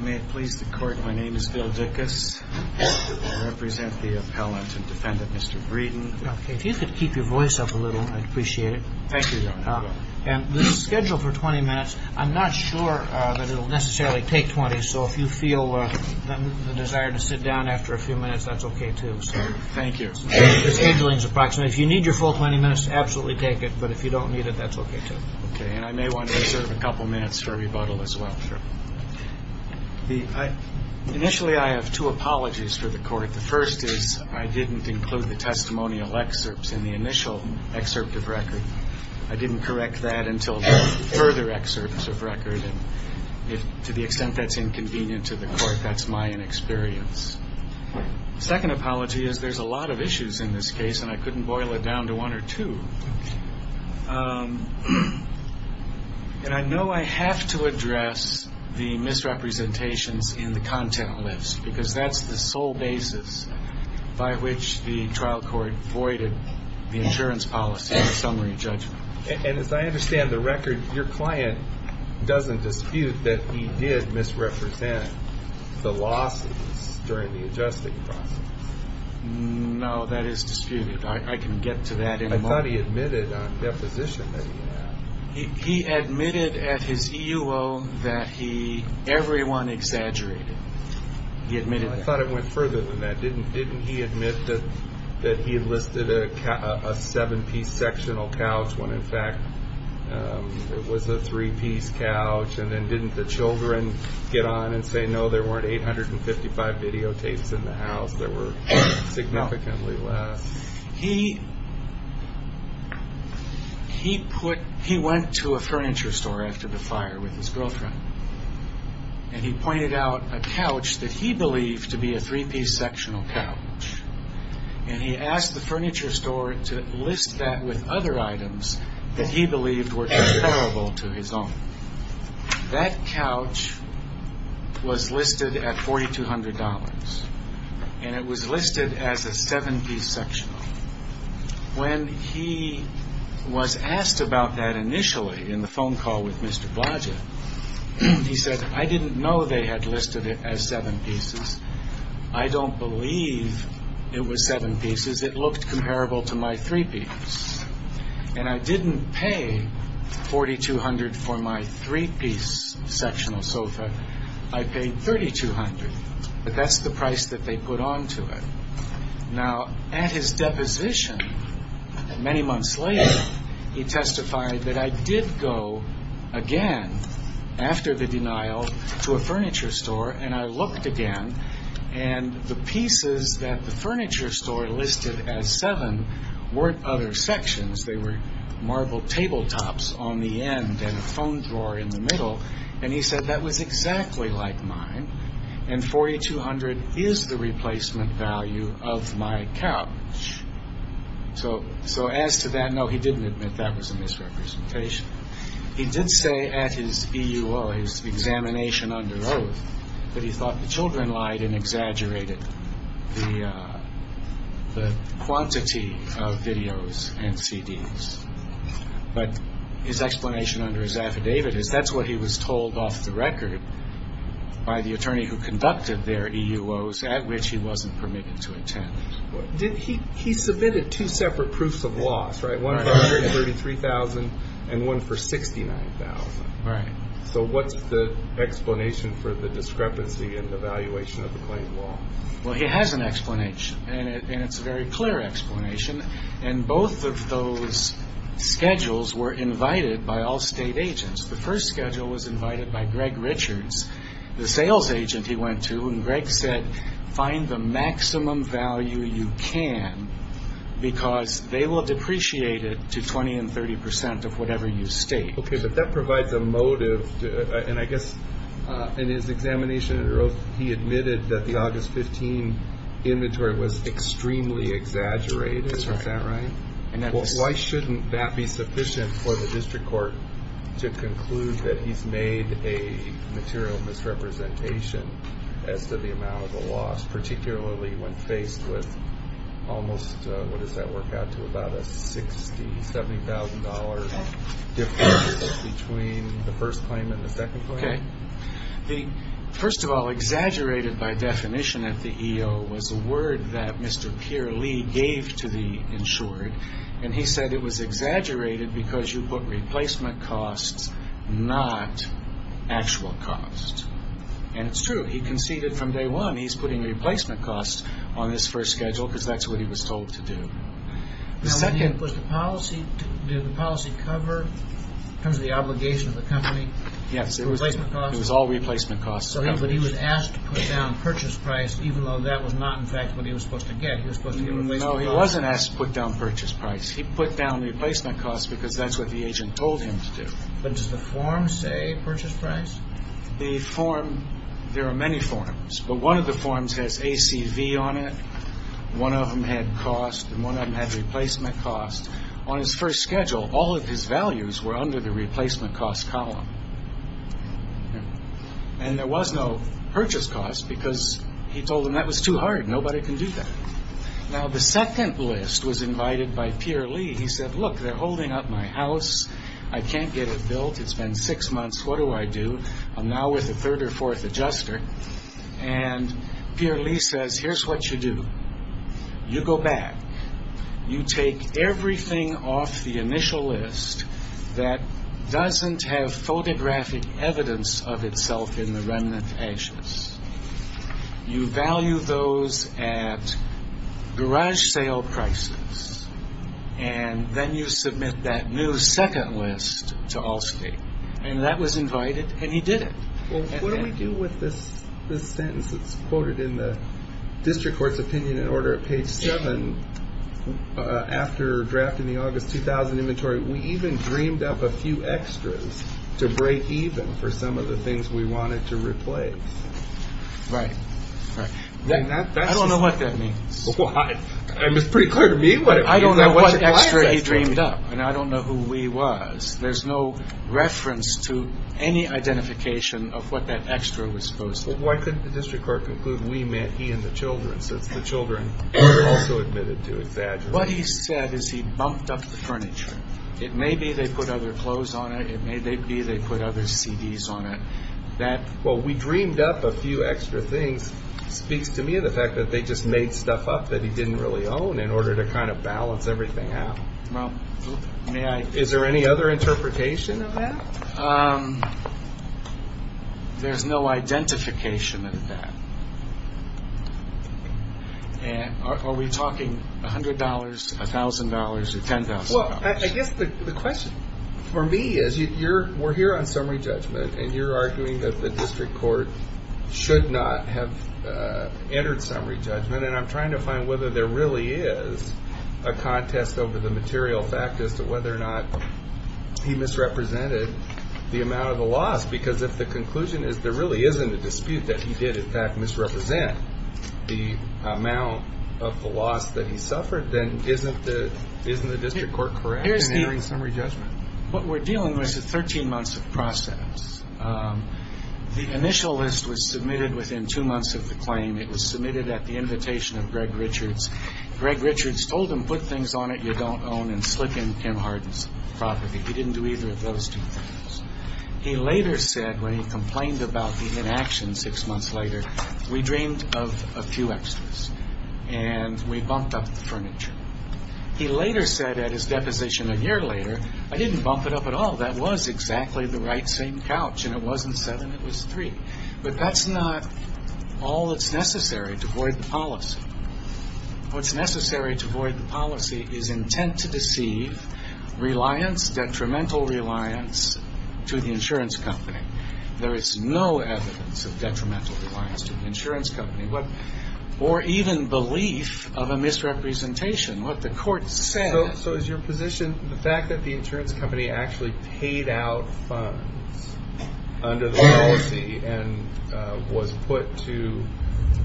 May it please the Court, my name is Bill Dickus. I represent the appellant and defendant, Mr. Breeden. If you could keep your voice up a little, I'd appreciate it. Thank you, Your Honor. And this is scheduled for 20 minutes. I'm not sure that it will necessarily take 20, so if you feel the desire to sit down after a few minutes, that's okay, too. Thank you. The scheduling is approximate. If you need your full 20 minutes, absolutely take it, but if you don't need it, that's okay, too. Okay, and I may want to reserve a couple minutes for rebuttal as well. Sure. Initially, I have two apologies for the Court. The first is I didn't include the testimonial excerpts in the initial excerpt of record. I didn't correct that until the further excerpts of record, and to the extent that's inconvenient to the Court, that's my inexperience. Second apology is there's a lot of issues in this case, and I couldn't boil it down to one or two. And I know I have to address the misrepresentations in the content list, because that's the sole basis by which the trial court voided the insurance policy of summary judgment. And as I understand the record, your client doesn't dispute that he did misrepresent the losses during the adjusting process. No, that is disputed. I can get to that in a moment. I thought he admitted on deposition that he had. He admitted at his EUO that he, everyone exaggerated. He admitted that. I thought it went further than that. Didn't he admit that he listed a seven-piece sectional couch, when in fact it was a three-piece couch, and then didn't the children get on and say, no, there weren't 855 videotapes in the house that were significantly less? No. He went to a furniture store after the fire with his girlfriend, and he pointed out a couch that he believed to be a three-piece sectional couch. And he asked the furniture store to list that with other items that he believed were comparable to his own. That couch was listed at $4,200, and it was listed as a seven-piece sectional. When he was asked about that initially in the phone call with Mr. Blodgett, he said, I didn't know they had listed it as seven pieces. I don't believe it was seven pieces. It looked comparable to my three-piece. And I didn't pay $4,200 for my three-piece sectional sofa. I paid $3,200. But that's the price that they put onto it. Now, at his deposition, many months later, he testified that I did go again after the weren't other sections. They were marble tabletops on the end and a phone drawer in the middle. And he said that was exactly like mine, and $4,200 is the replacement value of my couch. So as to that, no, he didn't admit that was a misrepresentation. He did say at his examination under oath that he thought the children lied and exaggerated the quantity of videos and CDs. But his explanation under his affidavit is that's what he was told off the record by the attorney who conducted their EUOs at which he wasn't permitted to attend. He submitted two separate proofs of loss, one for $33,000 and one for $69,000. So what's the explanation for the discrepancy in the valuation of the claim law? Well, he has an explanation, and it's a very clear explanation. And both of those schedules were invited by all state agents. The first schedule was invited by Greg Richards, the sales agent he went to. And Greg said, find the maximum value you can, because they will depreciate it to 20 and 30 percent of whatever you state. Okay, but that provides a motive. And I guess in his examination under oath, he admitted that the August 15 inventory was extremely exaggerated. That's right. Isn't that right? Why shouldn't that be sufficient for the district court to conclude that he's made a material misrepresentation as to the amount of the loss, particularly when faced with almost, what does that work out to, about a $60,000, $70,000 difference between the first claim and the second claim? Okay. First of all, exaggerated by definition at the EO was a word that Mr. Pierre Lee gave to the insured, and he said it was exaggerated because you put replacement costs, not actual cost. And it's true. He conceded from day one, he's putting replacement costs on this first schedule, because that's what he was told to do. Now, did the policy cover, in terms of the obligation of the company, replacement costs? Yes, it was all replacement costs. So he was asked to put down purchase price, even though that was not, in fact, what he was supposed to get. He was supposed to get replacement costs. No, he wasn't asked to put down purchase price. He put down replacement costs, because that's what the agent told him to do. But does the form say purchase price? The form, there are many forms, but one of the forms has ACV on it. One of them had cost, and one of them had replacement cost. On his first schedule, all of his values were under the replacement cost column. And there was no purchase cost, because he told him that was too hard. Nobody can do that. Now, the second list was invited by Pierre Lee. He said, look, they're holding up my house. I can't get it built. It's been six months. What do I do? I'm now with a third or fourth adjuster. And Pierre Lee says, here's what you do. You go back. You take everything off the initial list that doesn't have photographic evidence of itself in the remnant ashes. You value those at garage sale prices. And then you submit that new second list to Allstate. And that was invited, and he did it. Well, what do we do with this sentence that's quoted in the district court's opinion and order at page seven? After drafting the August 2000 inventory, we even dreamed up a few extras to break even for some of the things we wanted to replace. Right. I don't know what that means. It's pretty clear to me what it means. I don't know what extra he dreamed up, and I don't know who he was. There's no reference to any identification of what that extra was supposed to be. Why couldn't the district court conclude we meant he and the children, since the children were also admitted to his address? What he said is he bumped up the furniture. It may be they put other clothes on it. It may be they put other CDs on it. Well, we dreamed up a few extra things. Speaks to me of the fact that they just made stuff up that he didn't really own in order to kind of balance everything out. Is there any other interpretation of that? There's no identification of that. Are we talking $100, $1,000, or $10,000? Well, I guess the question for me is we're here on summary judgment, and you're arguing that the district court should not have entered summary judgment, and I'm trying to find whether there really is a contest over the material fact as to whether or not he misrepresented the amount of the loss, because if the conclusion is there really isn't a dispute that he did, in fact, misrepresent the amount of the loss that he suffered, then isn't the district court correct in entering summary judgment? What we're dealing with is 13 months of process. The initial list was submitted within two months of the claim. It was submitted at the invitation of Greg Richards. Greg Richards told him put things on it you don't own and slip in Kim Harden's property. He didn't do either of those two things. He later said when he complained about the inaction six months later, we dreamed of a few extras, and we bumped up the furniture. He later said at his deposition a year later, I didn't bump it up at all. That was exactly the right same couch, and it wasn't seven, it was three. But that's not all that's necessary to void the policy. What's necessary to void the policy is intent to deceive, reliance, detrimental reliance to the insurance company. There is no evidence of detrimental reliance to the insurance company, or even belief of a misrepresentation. So is your position the fact that the insurance company actually paid out funds under the policy and was put to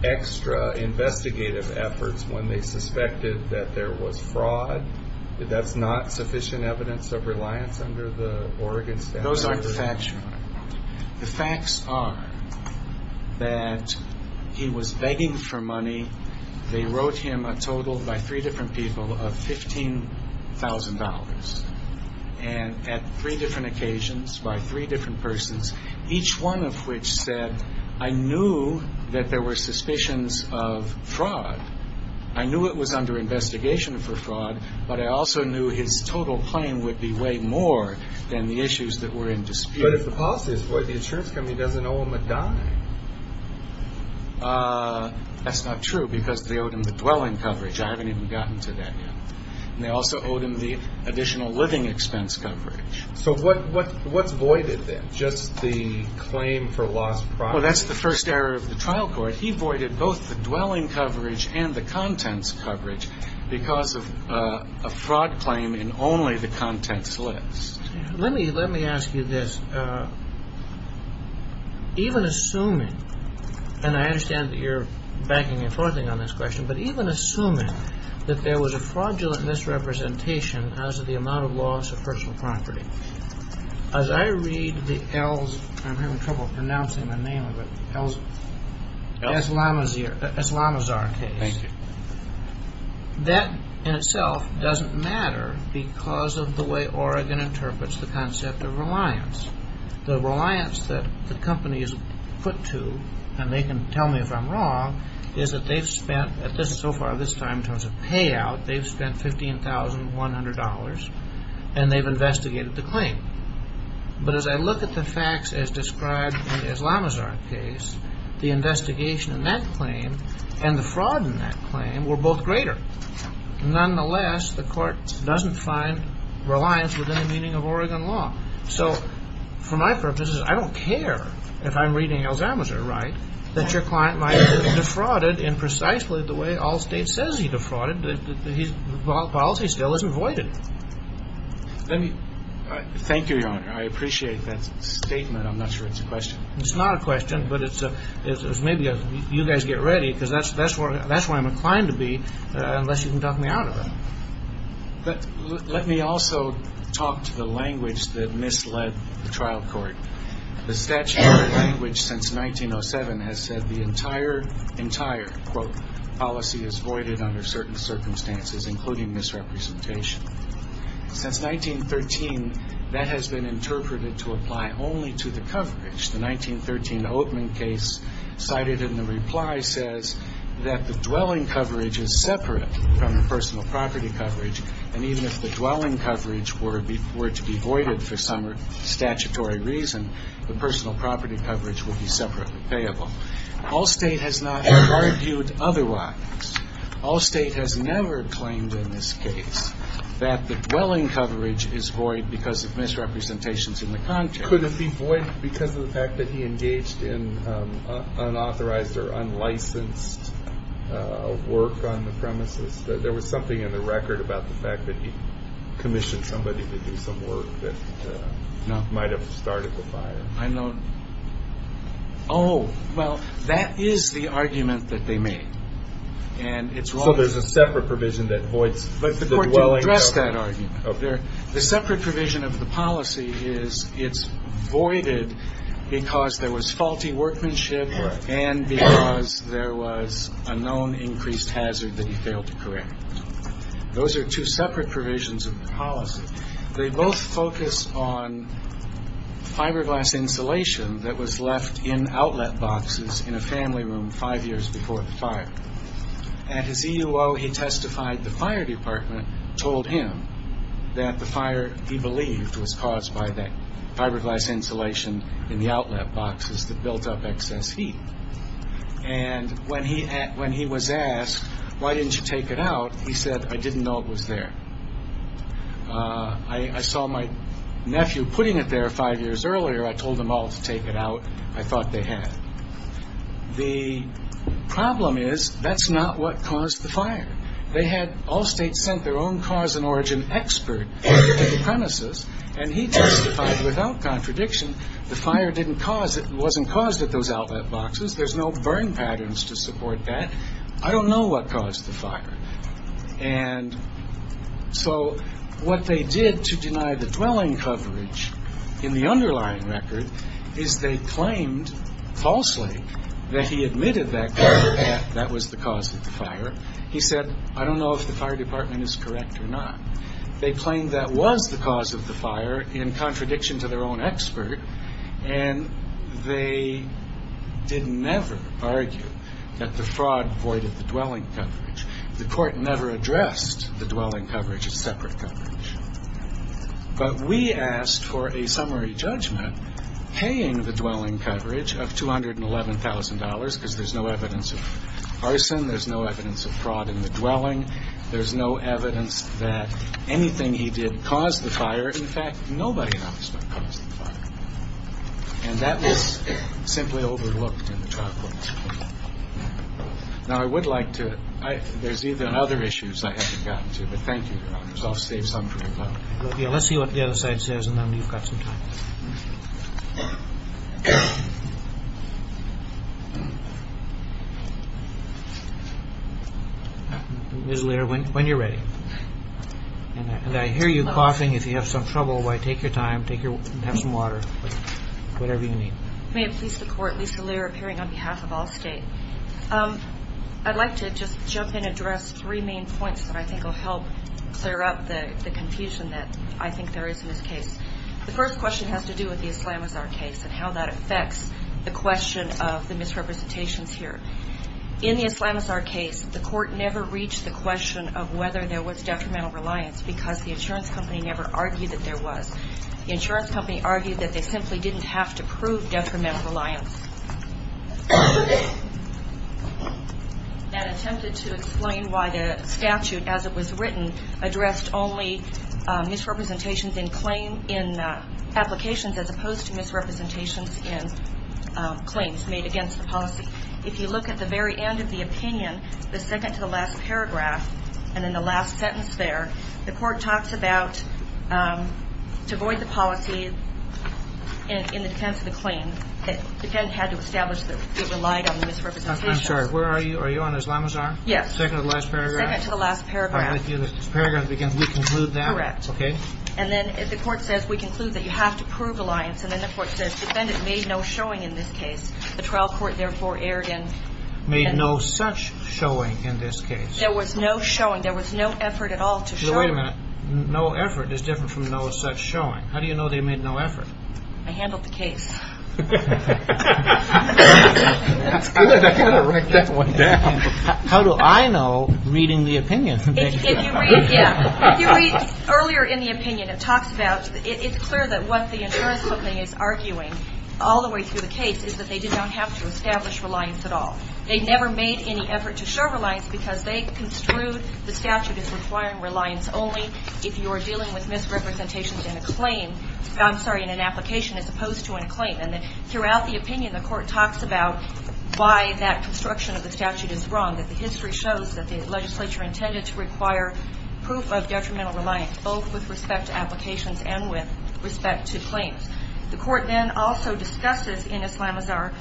extra investigative efforts when they suspected that there was fraud, that that's not sufficient evidence of reliance under the Oregon statute? Those aren't the facts. The facts are that he was begging for money. They wrote him a total by three different people of $15,000, and at three different occasions by three different persons, each one of which said, I knew that there were suspicions of fraud. I knew it was under investigation for fraud, but I also knew his total claim would be way more than the issues that were in dispute. But if the policy is void, the insurance company doesn't owe him a dime. That's not true, because they owed him the dwelling coverage. I haven't even gotten to that yet. And they also owed him the additional living expense coverage. So what's voided then? Just the claim for lost property? Well, that's the first error of the trial court. He voided both the dwelling coverage and the contents coverage because of a fraud claim in only the contents list. Let me ask you this. Even assuming, and I understand that you're backing and forthing on this question, but even assuming that there was a fraudulent misrepresentation as to the amount of loss of personal property, as I read the Ells, I'm having trouble pronouncing the name of it, Aslamazar case. That in itself doesn't matter because of the way Oregon interprets the concept of reliance. The reliance that the company is put to, and they can tell me if I'm wrong, is that they've spent, so far this time in terms of payout, they've spent $15,100 and they've investigated the claim. But as I look at the facts as described in the Aslamazar case, the investigation in that claim and the fraud in that claim were both greater. Nonetheless, the court doesn't find reliance within the meaning of Oregon law. So for my purposes, I don't care if I'm reading Aslamazar right that your client might be defrauded in precisely the way Allstate says he defrauded. The policy still isn't voided. Thank you, Your Honor. I appreciate that statement. I'm not sure it's a question. It's not a question, but it's maybe you guys get ready because that's where I'm inclined to be unless you can talk me out of it. But let me also talk to the language that misled the trial court. The statute of the language since 1907 has said the entire, quote, policy is voided under certain circumstances, including misrepresentation. Since 1913, that has been interpreted to apply only to the coverage. The 1913 Oatman case cited in the reply says that the dwelling coverage is separate from the personal property coverage, and even if the dwelling coverage were to be voided for some statutory reason, the personal property coverage would be separately payable. Allstate has not argued otherwise. Allstate has never claimed in this case that the dwelling coverage is void because of misrepresentations in the contract. Could it be void because of the fact that he engaged in unauthorized or unlicensed work on the premises? There was something in the record about the fact that he commissioned somebody to do some work that might have started the fire. I know. Oh, well, that is the argument that they made. And it's wrong. So there's a separate provision that voids the dwelling? The court didn't address that argument. The separate provision of the policy is it's voided because there was faulty workmanship and because there was a known increased hazard that he failed to correct. Those are two separate provisions of the policy. They both focus on fiberglass insulation that was left in outlet boxes in a family room five years before the fire. At his EUO, he testified the fire department told him that the fire, he believed, was caused by that fiberglass insulation in the outlet boxes that built up excess heat. And when he was asked, why didn't you take it out, he said, I didn't know it was there. I saw my nephew putting it there five years earlier. I told them all to take it out. I thought they had. The problem is that's not what caused the fire. They had Allstate send their own cause and origin expert to the premises, and he testified without contradiction the fire didn't cause it, there's no burn patterns to support that. I don't know what caused the fire. And so what they did to deny the dwelling coverage in the underlying record is they claimed falsely that he admitted that that was the cause of the fire. He said, I don't know if the fire department is correct or not. They claimed that was the cause of the fire in contradiction to their own expert, and they did never argue that the fraud voided the dwelling coverage. The court never addressed the dwelling coverage as separate coverage. But we asked for a summary judgment paying the dwelling coverage of $211,000 because there's no evidence of arson, there's no evidence of fraud in the dwelling, there's no evidence that anything he did caused the fire. In fact, nobody knows what caused the fire. And that was simply overlooked in the trial court. Now, I would like to – there's other issues I haven't gotten to, but thank you, Your Honors. I'll save some for you now. Let's see what the other side says and then we've got some time. When you're ready. And I hear you coughing. If you have some trouble, take your time, have some water, whatever you need. May it please the Court, Lisa Lerer, appearing on behalf of Allstate. I'd like to just jump in and address three main points that I think will help clear up the confusion that I think there is in this case. The first question has to do with the Islamazar case and how that affects the question of the misrepresentations here. In the Islamazar case, the court never reached the question of whether there was detrimental reliance because the insurance company never argued that there was. The insurance company argued that they simply didn't have to prove detrimental reliance. That attempted to explain why the statute, as it was written, addressed only misrepresentations in claim in applications as opposed to misrepresentations in claims made against the policy. If you look at the very end of the opinion, the second to the last paragraph, and then the last sentence there, the court talks about, to avoid the policy, in the defense of the claim, the defendant had to establish that it relied on the misrepresentations. I'm sorry, where are you? Are you on Islamazar? Yes. Second to the last paragraph. Second to the last paragraph. This paragraph begins, we conclude that. Correct. Okay. And then the court says, we conclude that you have to prove reliance. And then the court says, defendant made no showing in this case. The trial court therefore erred in. Made no such showing in this case. There was no showing. There was no effort at all to show. Wait a minute. No effort is different from no such showing. How do you know they made no effort? I handled the case. That's good. I've got to write that one down. How do I know, reading the opinion? If you read earlier in the opinion, it talks about, it's clear that what the insurance company is arguing, all the way through the case, is that they did not have to establish reliance at all. They never made any effort to show reliance because they construed the statute as requiring reliance only if you are dealing with misrepresentations in a claim, I'm sorry, in an application as opposed to in a claim. And throughout the opinion, the court talks about why that construction of the statute is wrong, that the history shows that the legislature intended to require proof of detrimental reliance, both with respect to applications and with respect to claims. The court then also discusses in Islamazar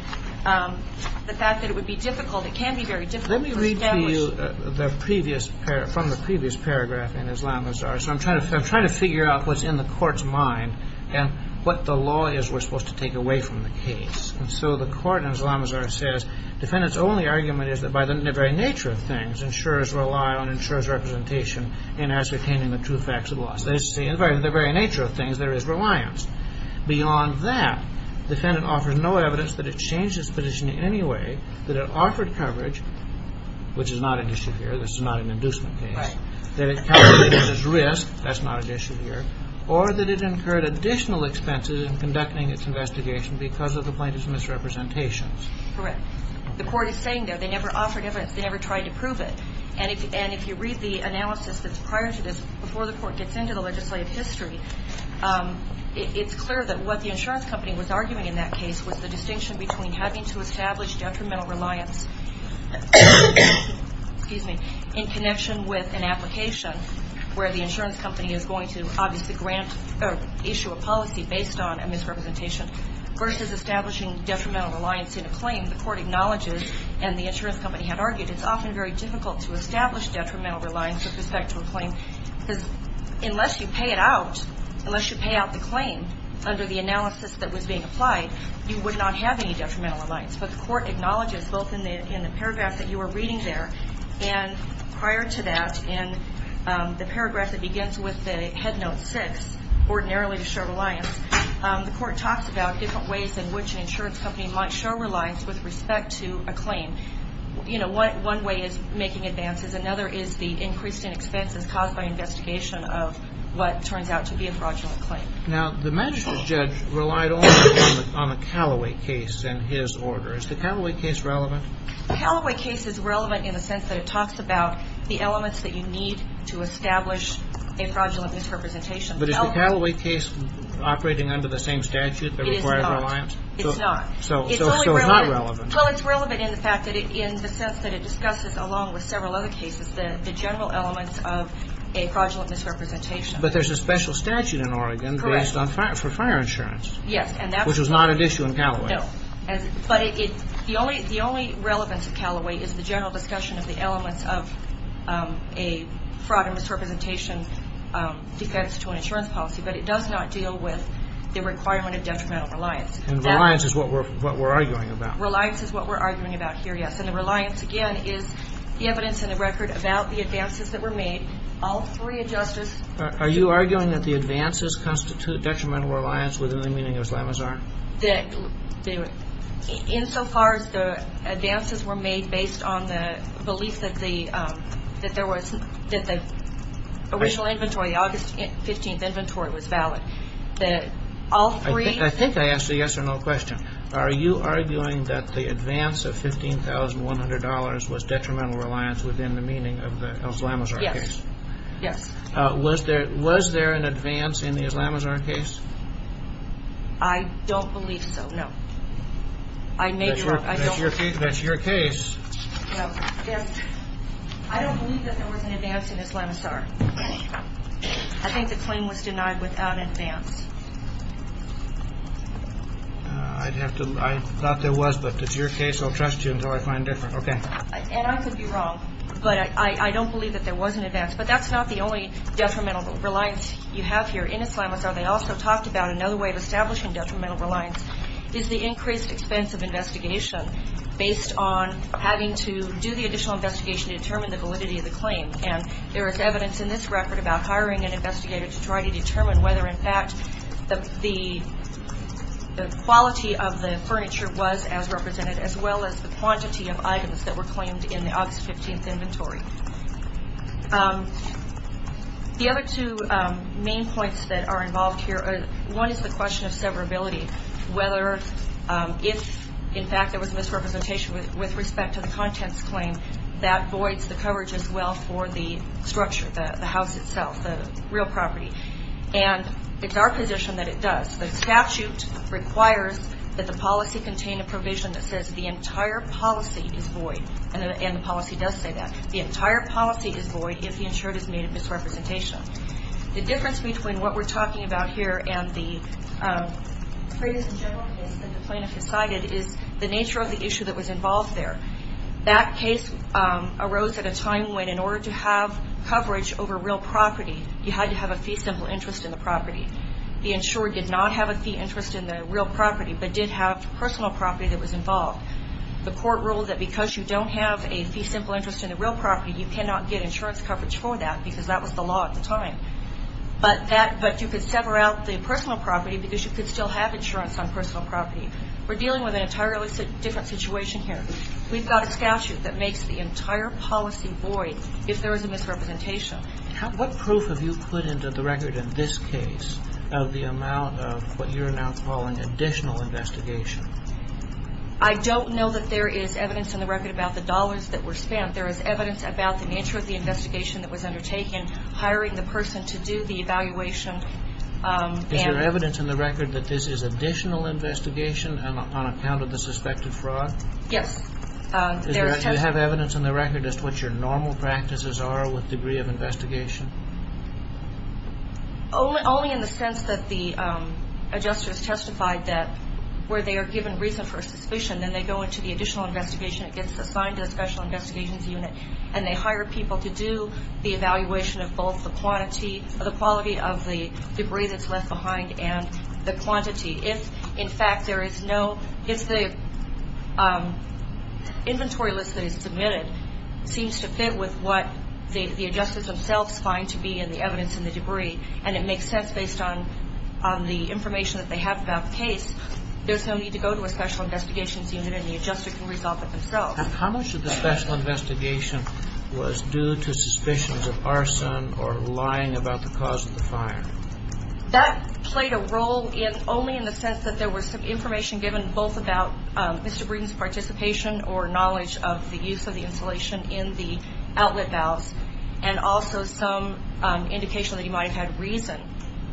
the fact that it would be difficult, it can be very difficult to establish. Let me read to you from the previous paragraph in Islamazar. So I'm trying to figure out what's in the court's mind and what the law is we're supposed to take away from the case. And so the court in Islamazar says, defendant's only argument is that by the very nature of things, insurers rely on insurer's representation in ascertaining the true facts of the law. As they say, by the very nature of things, there is reliance. Beyond that, defendant offers no evidence that it changed its position in any way, that it offered coverage, which is not an issue here, this is not an inducement case, that it calculated its risk, that's not an issue here, or that it incurred additional expenses in conducting its investigation because of the plaintiff's misrepresentations. Correct. The court is saying there they never offered evidence, they never tried to prove it. And if you read the analysis that's prior to this, before the court gets into the legislative history, it's clear that what the insurance company was arguing in that case was the distinction between having to establish detrimental reliance in connection with an application where the insurance company is going to obviously grant or issue a policy based on a misrepresentation versus establishing detrimental reliance in a claim the court acknowledges and the insurance company had argued. It's often very difficult to establish detrimental reliance with respect to a claim because unless you pay it out, unless you pay out the claim under the analysis that was being applied, you would not have any detrimental reliance. But the court acknowledges both in the paragraph that you were reading there and prior to that in the paragraph that begins with the head note six, ordinarily to show reliance, the court talks about different ways in which an insurance company might show reliance with respect to a claim. And, you know, one way is making advances. Another is the increase in expenses caused by investigation of what turns out to be a fraudulent claim. Now, the magistrate's judge relied only on the Callaway case in his order. Is the Callaway case relevant? The Callaway case is relevant in the sense that it talks about the elements that you need to establish a fraudulent misrepresentation. But is the Callaway case operating under the same statute that requires reliance? It's not. So it's not relevant. Well, it's relevant in the sense that it discusses, along with several other cases, the general elements of a fraudulent misrepresentation. But there's a special statute in Oregon based on fire insurance. Yes. Which was not an issue in Callaway. No. But the only relevance of Callaway is the general discussion of the elements of a fraud and misrepresentation defense to an insurance policy. But it does not deal with the requirement of detrimental reliance. And reliance is what we're arguing about. Reliance is what we're arguing about here, yes. And the reliance, again, is the evidence and the record about the advances that were made. All three of justice. Are you arguing that the advances constitute detrimental reliance within the meaning of Slamazar? That insofar as the advances were made based on the belief that the original inventory, August 15th inventory was valid. That all three. I think I asked a yes or no question. Are you arguing that the advance of $15,100 was detrimental reliance within the meaning of the Slamazar case? Yes. Yes. Was there an advance in the Slamazar case? I don't believe so, no. I may be wrong. That's your case. No. I don't believe that there was an advance in the Slamazar. I think the claim was denied without advance. I'd have to. I thought there was. But it's your case. I'll trust you until I find different. Okay. And I could be wrong. But I don't believe that there was an advance. But that's not the only detrimental reliance you have here in a Slamazar. They also talked about another way of establishing detrimental reliance is the increased expense of investigation based on having to do the additional investigation to determine the validity of the claim. And there is evidence in this record about hiring an investigator to try to determine whether, in fact, the quality of the furniture was as represented, as well as the quantity of items that were claimed in the August 15th inventory. The other two main points that are involved here, one is the question of severability, whether if, in fact, there was misrepresentation with respect to the contents claim, that voids the coverage as well for the structure, the house itself, the real property. And it's our position that it does. The statute requires that the policy contain a provision that says the entire policy is void. And the policy does say that. The entire policy is void if the insured has made a misrepresentation. The difference between what we're talking about here and the previous general case that the plaintiff has cited is the nature of the issue that was involved there. That case arose at a time when, in order to have coverage over real property, you had to have a fee simple interest in the property. The insurer did not have a fee interest in the real property, but did have personal property that was involved. The court ruled that because you don't have a fee simple interest in the real property, you cannot get insurance coverage for that because that was the law at the time. But you could sever out the personal property because you could still have insurance on personal property. We're dealing with an entirely different situation here. We've got a statute that makes the entire policy void if there is a misrepresentation. What proof have you put into the record in this case of the amount of what you're now calling additional investigation? I don't know that there is evidence in the record about the dollars that were spent. There is evidence about the nature of the investigation that was undertaken, hiring the person to do the evaluation. Is there evidence in the record that this is additional investigation on account of the suspected fraud? Yes. Do you have evidence in the record as to what your normal practices are with degree of investigation? Only in the sense that the adjusters testified that where they are given reason for suspicion, then they go into the additional investigation. It gets assigned to a special investigations unit, and they hire people to do the evaluation of both the quality of the debris that's left behind and the quantity. If, in fact, the inventory list that is submitted seems to fit with what the adjusters themselves find to be in the evidence in the debris, and it makes sense based on the information that they have about the case, there's no need to go to a special investigations unit, and the adjuster can resolve it themselves. How much of the special investigation was due to suspicions of arson or lying about the cause of the fire? That played a role only in the sense that there was some information given both about Mr. Breeden's participation or knowledge of the use of the insulation in the outlet valves, and also some indication that he might have had reason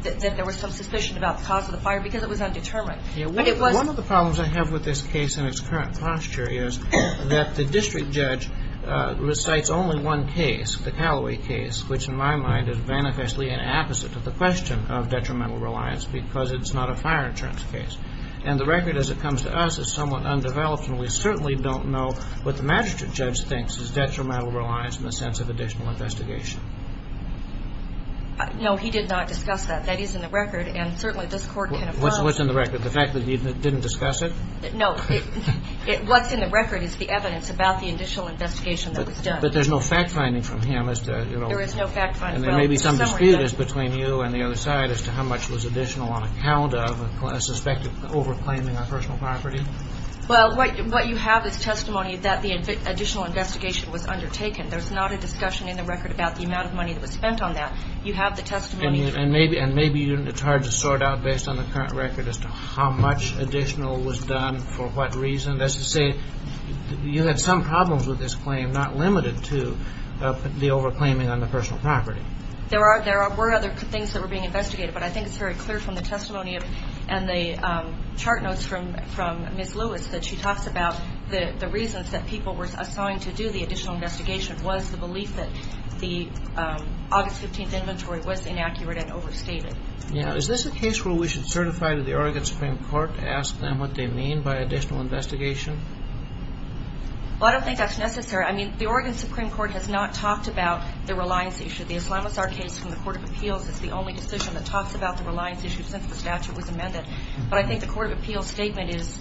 that there was some suspicion about the cause of the fire because it was undetermined. One of the problems I have with this case and its current posture is that the district judge recites only one case, the Callaway case, which in my mind is manifestly an opposite of the question of detrimental reliance because it's not a fire insurance case. And the record as it comes to us is somewhat undeveloped, and we certainly don't know what the magistrate judge thinks is detrimental reliance in the sense of additional investigation. No, he did not discuss that. That is in the record, and certainly this Court can affirm. What's in the record? The fact that he didn't discuss it? No. What's in the record is the evidence about the additional investigation that was done. But there's no fact-finding from him as to, you know. There is no fact-finding. And there may be some dispute between you and the other side as to how much was additional on account of a suspected over-claiming of personal property. Well, what you have is testimony that the additional investigation was undertaken. There's not a discussion in the record about the amount of money that was spent on that. You have the testimony. And maybe it's hard to sort out based on the current record as to how much additional was done for what reason. That's to say you had some problems with this claim, not limited to the over-claiming on the personal property. There were other things that were being investigated, but I think it's very clear from the testimony and the chart notes from Ms. Lewis that she talks about the reasons that people were assigned to do the additional investigation was the belief that the August 15th inventory was inaccurate and overstated. Now, is this a case where we should certify to the Oregon Supreme Court to ask them what they mean by additional investigation? Well, I don't think that's necessary. I mean, the Oregon Supreme Court has not talked about the reliance issue. The Islamazar case from the Court of Appeals is the only decision that talks about the reliance issue since the statute was amended. But I think the Court of Appeals statement is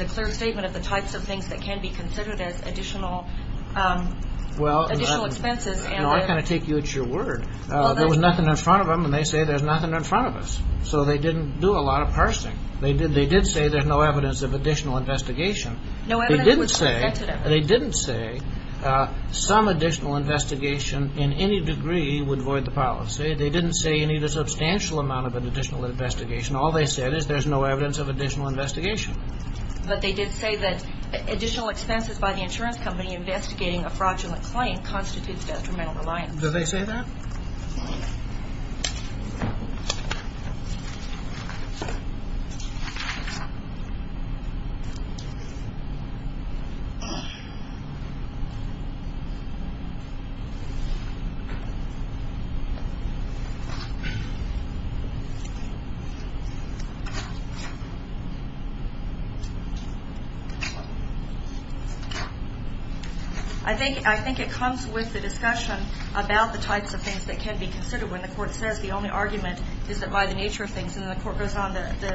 a clear statement of the types of things that can be considered as additional expenses. Well, I kind of take you at your word. There was nothing in front of them, and they say there's nothing in front of us. So they didn't do a lot of parsing. They did say there's no evidence of additional investigation. No evidence was presented. They didn't say some additional investigation in any degree would void the policy. They didn't say you need a substantial amount of an additional investigation. All they said is there's no evidence of additional investigation. But they did say that additional expenses by the insurance company investigating a fraudulent claim constitutes detrimental reliance. Do they say that? I think it comes with the discussion about the types of things that can be considered when the court says the only argument is that by the nature of things That's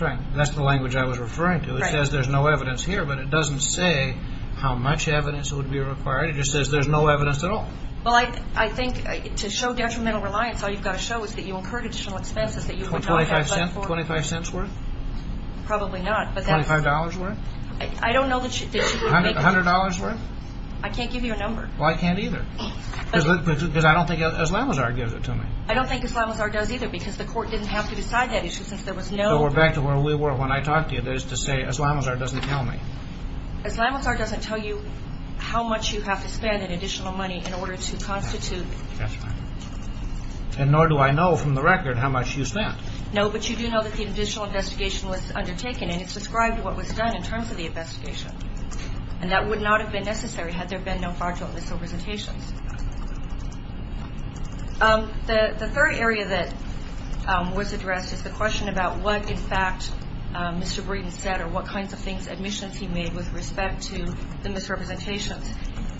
right. That's the language I was referring to. It says there's no evidence here, but it doesn't say how much evidence would be required. It just says there's no evidence at all. Well, I think to show detrimental reliance, all you've got to show is that you incurred additional expenses. Twenty-five cents worth? Probably not. Twenty-five dollars worth? I don't know that you would make... A hundred dollars worth? I can't give you a number. Well, I can't either. Because I don't think Islamazar gives it to me. I don't think Islamazar does either because the court didn't have to decide that issue since there was no... So we're back to where we were when I talked to you. That is to say Islamazar doesn't tell me. Islamazar doesn't tell you how much you have to spend in additional money in order to constitute... That's right. And nor do I know from the record how much you spent. No, but you do know that the additional investigation was undertaken, and it's described what was done in terms of the investigation. And that would not have been necessary had there been no fraudulent misrepresentations. The third area that was addressed is the question about what, in fact, Mr. Breeden said or what kinds of admissions he made with respect to the misrepresentations.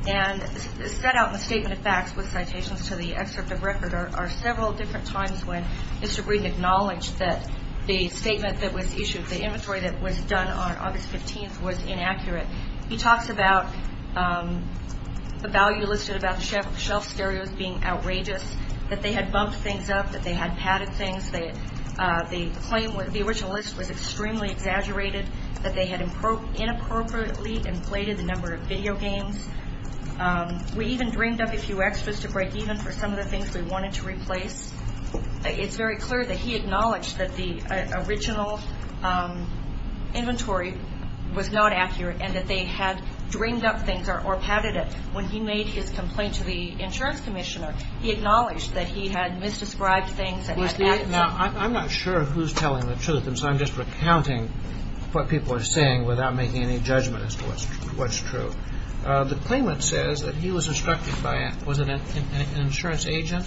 And set out in a statement of facts with citations to the excerpt of record are several different times when Mr. Breeden acknowledged that the statement that was issued, the inventory that was done on August 15th was inaccurate. He talks about the value listed about the shelf stereos being outrageous, that they had bumped things up, that they had padded things. The claim, the original list was extremely exaggerated, that they had inappropriately inflated the number of video games. We even dreamed up a few extras to break even for some of the things we wanted to replace. It's very clear that he acknowledged that the original inventory was not accurate and that they had dreamed up things or padded it. When he made his complaint to the insurance commissioner, he acknowledged that he had misdescribed things. Now, I'm not sure who's telling the truth, and so I'm just recounting what people are saying without making any judgment as to what's true. The claimant says that he was instructed by, was it an insurance agent,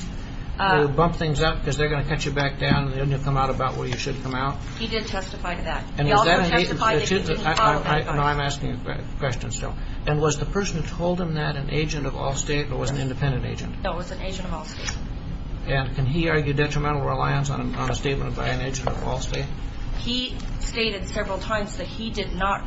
to bump things up because they're going to cut you back down and then you'll come out about where you should come out. He did testify to that. He also testified that he didn't follow that advice. Now, I'm asking a question still. And was the person who told him that an agent of Allstate or was an independent agent? No, it was an agent of Allstate. And can he argue detrimental reliance on a statement by an agent of Allstate? He stated several times that he did not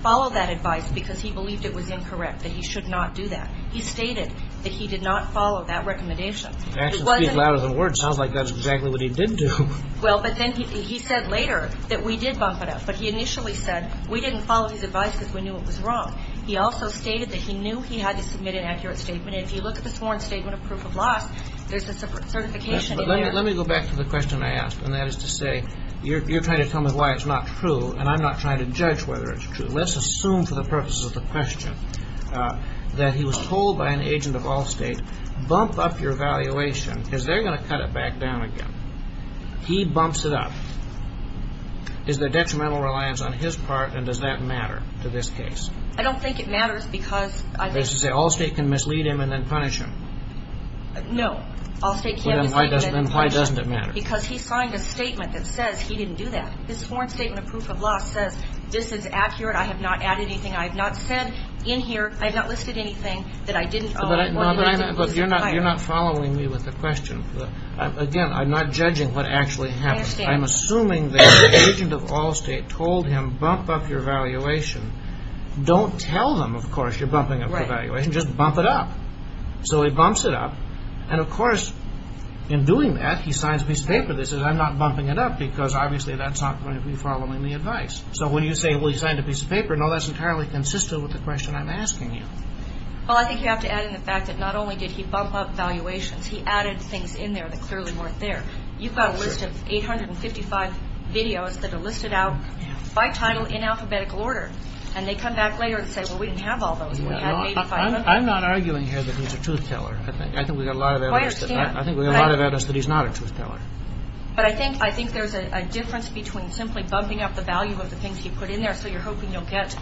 follow that advice because he believed it was incorrect, that he should not do that. He stated that he did not follow that recommendation. Actions speak louder than words. Sounds like that's exactly what he did do. Well, but then he said later that we did bump it up, but he initially said we didn't follow his advice because we knew it was wrong. He also stated that he knew he had to submit an accurate statement, and if you look at the sworn statement of proof of loss, there's a certification in there. Let me go back to the question I asked, and that is to say you're trying to tell me why it's not true, and I'm not trying to judge whether it's true. Let's assume for the purposes of the question that he was told by an agent of Allstate, bump up your valuation because they're going to cut it back down again. He bumps it up. Is there detrimental reliance on his part, and does that matter to this case? I don't think it matters because I think— That is to say Allstate can mislead him and then punish him. No, Allstate can't mislead him and then punish him. Then why doesn't it matter? Because he signed a statement that says he didn't do that. This sworn statement of proof of loss says this is accurate. I have not added anything. I have not said in here, I have not listed anything that I didn't owe or that I didn't lose in retirement. But you're not following me with the question. Again, I'm not judging what actually happened. I understand. I'm assuming that the agent of Allstate told him bump up your valuation. Don't tell them, of course, you're bumping up the valuation. Just bump it up. So he bumps it up. And, of course, in doing that, he signs a piece of paper that says I'm not bumping it up because obviously that's not going to be following the advice. So when you say, well, he signed a piece of paper, no, that's entirely consistent with the question I'm asking you. Well, I think you have to add in the fact that not only did he bump up valuations, he added things in there that clearly weren't there. You've got a list of 855 videos that are listed out by title in alphabetical order. And they come back later and say, well, we didn't have all those. I'm not arguing here that he's a truth teller. I think we've got a lot of evidence that he's not a truth teller. But I think there's a difference between simply bumping up the value of the things you put in there so you're hoping you'll get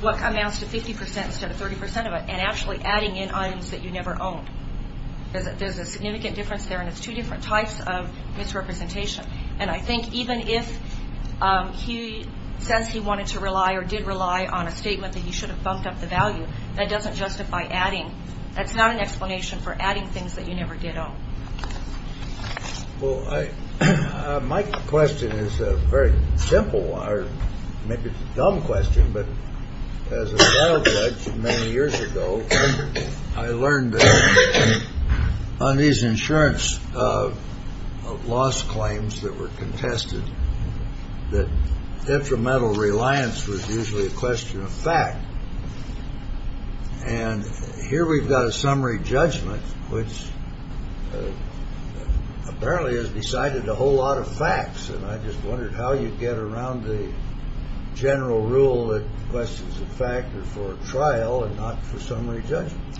what amounts to 50% instead of 30% of it and actually adding in items that you never owned. There's a significant difference there, and it's two different types of misrepresentation. And I think even if he says he wanted to rely or did rely on a statement that you should have bumped up the value, that doesn't justify adding. That's not an explanation for adding things that you never did own. Well, my question is a very simple or maybe dumb question. But as a trial judge many years ago, I learned that on these insurance loss claims that were contested, that detrimental reliance was usually a question of fact. And here we've got a summary judgment, which apparently has decided a whole lot of facts. And I just wondered how you get around the general rule that questions of fact are for a trial and not for summary judgment.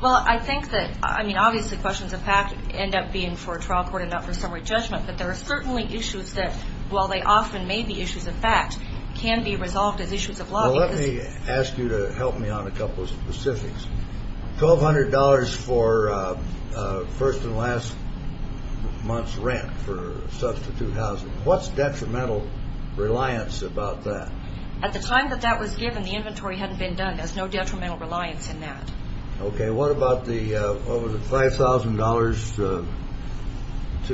Well, I think that, I mean, obviously questions of fact end up being for a trial court and not for summary judgment. But there are certainly issues that, while they often may be issues of fact, can be resolved as issues of law. Well, let me ask you to help me on a couple of specifics. $1,200 for first and last month's rent for substitute housing. What's detrimental reliance about that? At the time that that was given, the inventory hadn't been done. There's no detrimental reliance in that. Okay, what about the, what was it, $5,000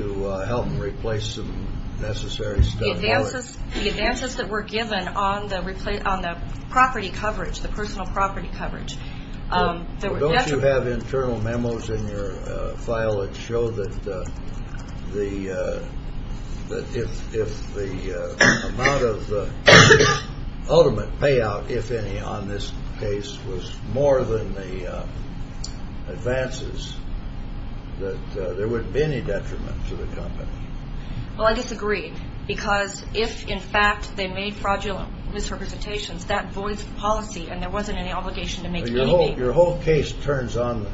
to help them replace some necessary stuff? The advances that were given on the property coverage, the personal property coverage. Don't you have internal memos in your file that show that the, that if the amount of the ultimate payout, if any, on this case was more than the advances, that there wouldn't be any detriment to the company? Well, I disagree. Because if, in fact, they made fraudulent misrepresentations, that voids policy. And there wasn't any obligation to make anything. Your whole case turns on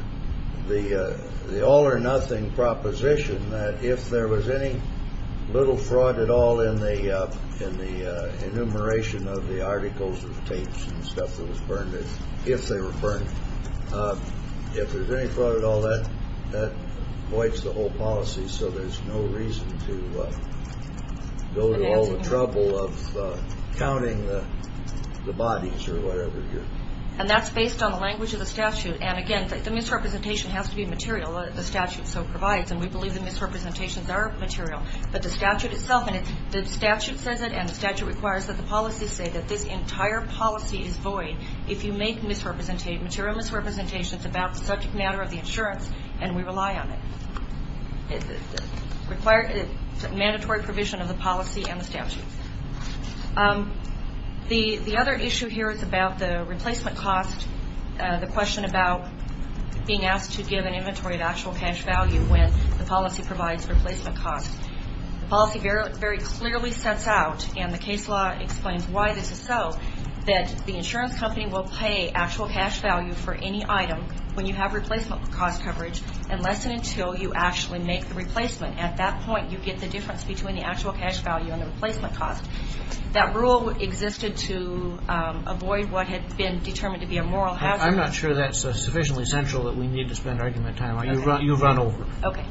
the all or nothing proposition that if there was any little fraud at all in the enumeration of the articles and tapes and stuff that was burned, if they were burned, if there was any fraud at all, that voids the whole policy. So there's no reason to go to all the trouble of counting the bodies or whatever. And that's based on the language of the statute. And, again, the misrepresentation has to be material. The statute so provides. And we believe the misrepresentations are material. But the statute itself, and the statute says it and the statute requires that the policies say that this entire policy is void if you make misrepresentations, material misrepresentations about the subject matter of the insurance, and we rely on it. It requires mandatory provision of the policy and the statute. The other issue here is about the replacement cost, the question about being asked to give an inventory of actual cash value when the policy provides replacement costs. The policy very clearly sets out, and the case law explains why this is so, that the insurance company will pay actual cash value for any item when you have replacement cost coverage unless and until you actually make the replacement. At that point, you get the difference between the actual cash value and the replacement cost. That rule existed to avoid what had been determined to be a moral hazard. I'm not sure that's sufficiently central that we need to spend argument time on. You've run over. Okay.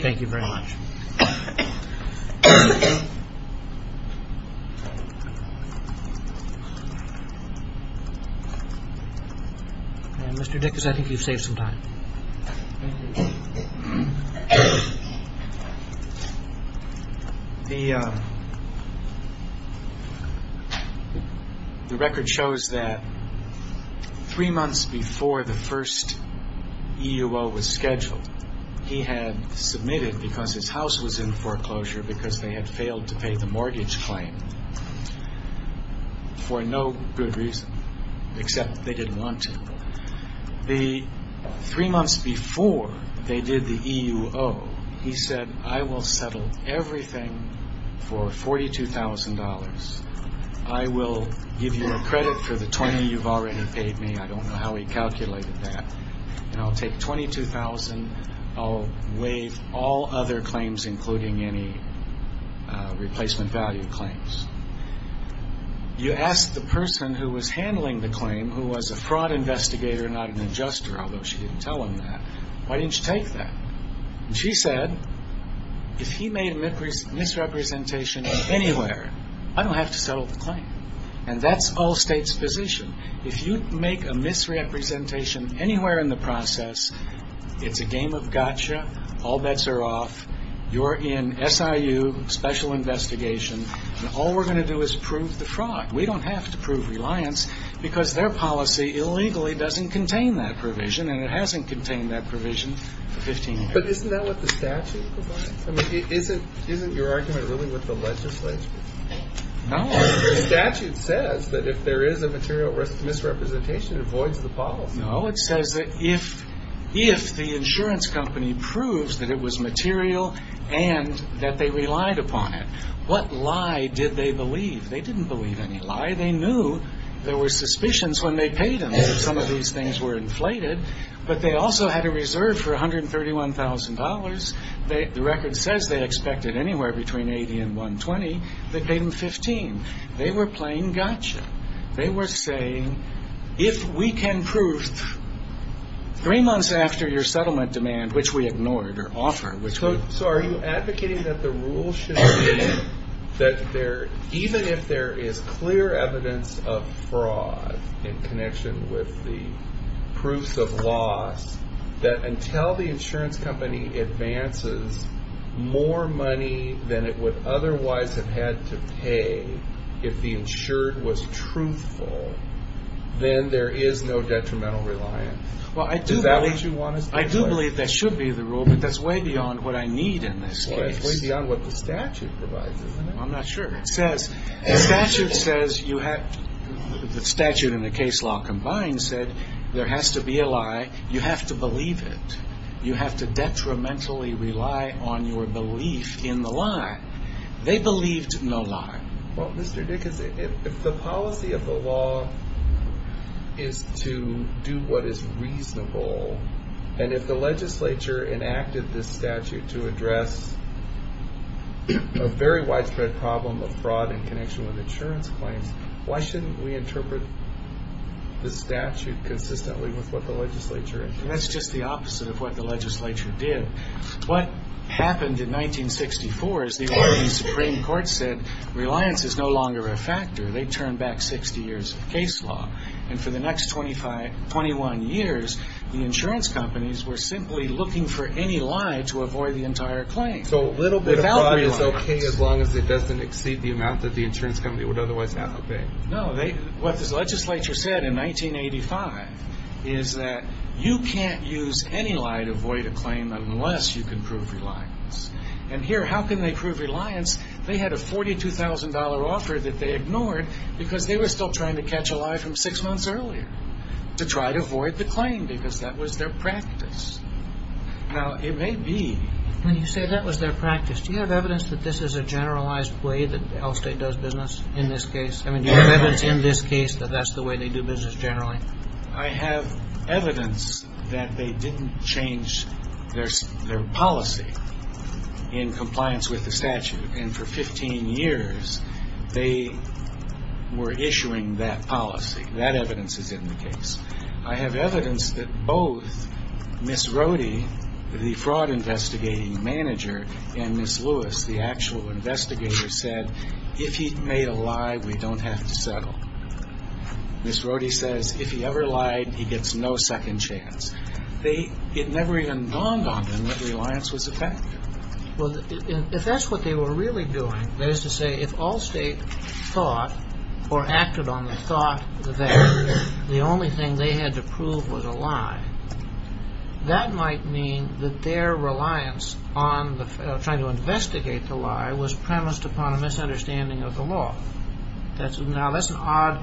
Thank you very much. Thank you. Mr. Dickes, I think you've saved some time. Thank you. The record shows that three months before the first EUO was scheduled, he had submitted because his house was in foreclosure because they had failed to pay the mortgage claim for no good reason, except they didn't want to. Three months before they did the EUO, he said, I will settle everything for $42,000. I will give you a credit for the 20 you've already paid me. I don't know how he calculated that. I'll take $22,000. I'll waive all other claims, including any replacement value claims. You asked the person who was handling the claim, who was a fraud investigator, not an adjuster, although she didn't tell him that, why didn't you take that? She said, if he made a misrepresentation anywhere, I don't have to settle the claim. That's all states' position. If you make a misrepresentation anywhere in the process, it's a game of gotcha. All bets are off. You're in SIU special investigation, and all we're going to do is prove the fraud. We don't have to prove reliance because their policy illegally doesn't contain that provision, and it hasn't contained that provision for 15 years. But isn't that what the statute defines? I mean, isn't your argument really with the legislature? No. The statute says that if there is a material misrepresentation, it avoids the policy. No, it says that if the insurance company proves that it was material and that they relied upon it, what lie did they believe? They didn't believe any lie. They knew there were suspicions when they paid them that some of these things were inflated, but they also had a reserve for $131,000. The record says they expected anywhere between 80 and 120. They paid them 15. They were playing gotcha. They were saying, if we can prove three months after your settlement demand, which we ignored or offered, which we did. So are you advocating that the rule should be that even if there is clear evidence of fraud in connection with the proofs of loss, that until the insurance company advances more money than it would otherwise have had to pay if the insured was truthful, then there is no detrimental reliance? Is that what you want us to believe? I do believe that should be the rule, but that's way beyond what I need in this case. That's way beyond what the statute provides, isn't it? I'm not sure. The statute and the case law combined said there has to be a lie. You have to believe it. You have to detrimentally rely on your belief in the lie. They believed no lie. Well, Mr. Dickens, if the policy of the law is to do what is reasonable, and if the legislature enacted this statute to address a very widespread problem of fraud in connection with insurance claims, why shouldn't we interpret the statute consistently with what the legislature did? That's just the opposite of what the legislature did. What happened in 1964 is the Oregon Supreme Court said reliance is no longer a factor. They turned back 60 years of case law. And for the next 21 years, the insurance companies were simply looking for any lie to avoid the entire claim. So a little bit of lie is okay as long as it doesn't exceed the amount that the insurance company would otherwise have to pay. No. What the legislature said in 1985 is that you can't use any lie to avoid a claim unless you can prove reliance. And here, how can they prove reliance? They had a $42,000 offer that they ignored because they were still trying to catch a lie from six months earlier to try to avoid the claim because that was their practice. Now, it may be. When you say that was their practice, do you have evidence that this is a generalized way that the health state does business in this case? I mean, do you have evidence in this case that that's the way they do business generally? I have evidence that they didn't change their policy in compliance with the statute. And for 15 years, they were issuing that policy. That evidence is in the case. I have evidence that both Ms. Rohde, the fraud investigating manager, and Ms. Lewis, the actual investigator, said, if he made a lie, we don't have to settle. Ms. Rohde says, if he ever lied, he gets no second chance. It never even dawned on them that reliance was a fact. Well, if that's what they were really doing, that is to say, if all state thought or acted on the thought there, the only thing they had to prove was a lie, that might mean that their reliance on trying to investigate the lie was premised upon a misunderstanding of the law. Now, that's an odd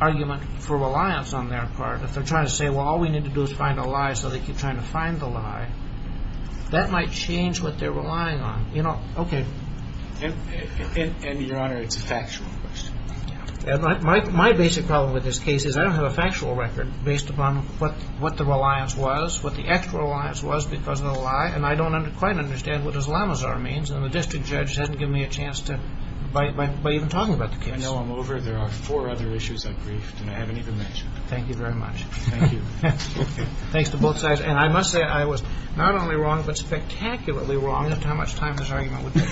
argument for reliance on their part. If they're trying to say, well, all we need to do is find a lie, so they keep trying to find the lie, that might change what they're relying on. And, Your Honor, it's a factual question. My basic problem with this case is I don't have a factual record based upon what the reliance was, what the actual reliance was because of the lie, and I don't quite understand what Islamazar means. And the district judge hasn't given me a chance to, by even talking about the case. I know I'm over. There are four other issues I've briefed and I haven't even mentioned. Thank you very much. Thank you. Thanks to both sides. And I must say, I was not only wrong, but spectacularly wrong as to how much time this argument would take.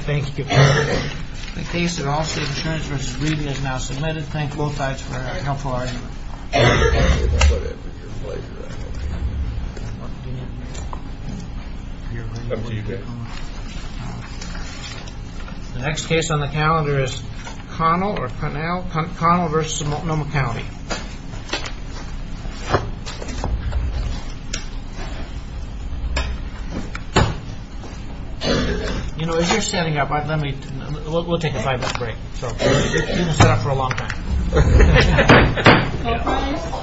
Thank you. The case of Allstate Insurance v. Reedy is now submitted. Thank both sides for a helpful argument. Thank you. The next case on the calendar is Connell v. Multnomah County. You know, as you're setting up, we'll take a five-minute break. You've been set up for a long time. All rise. Thank you.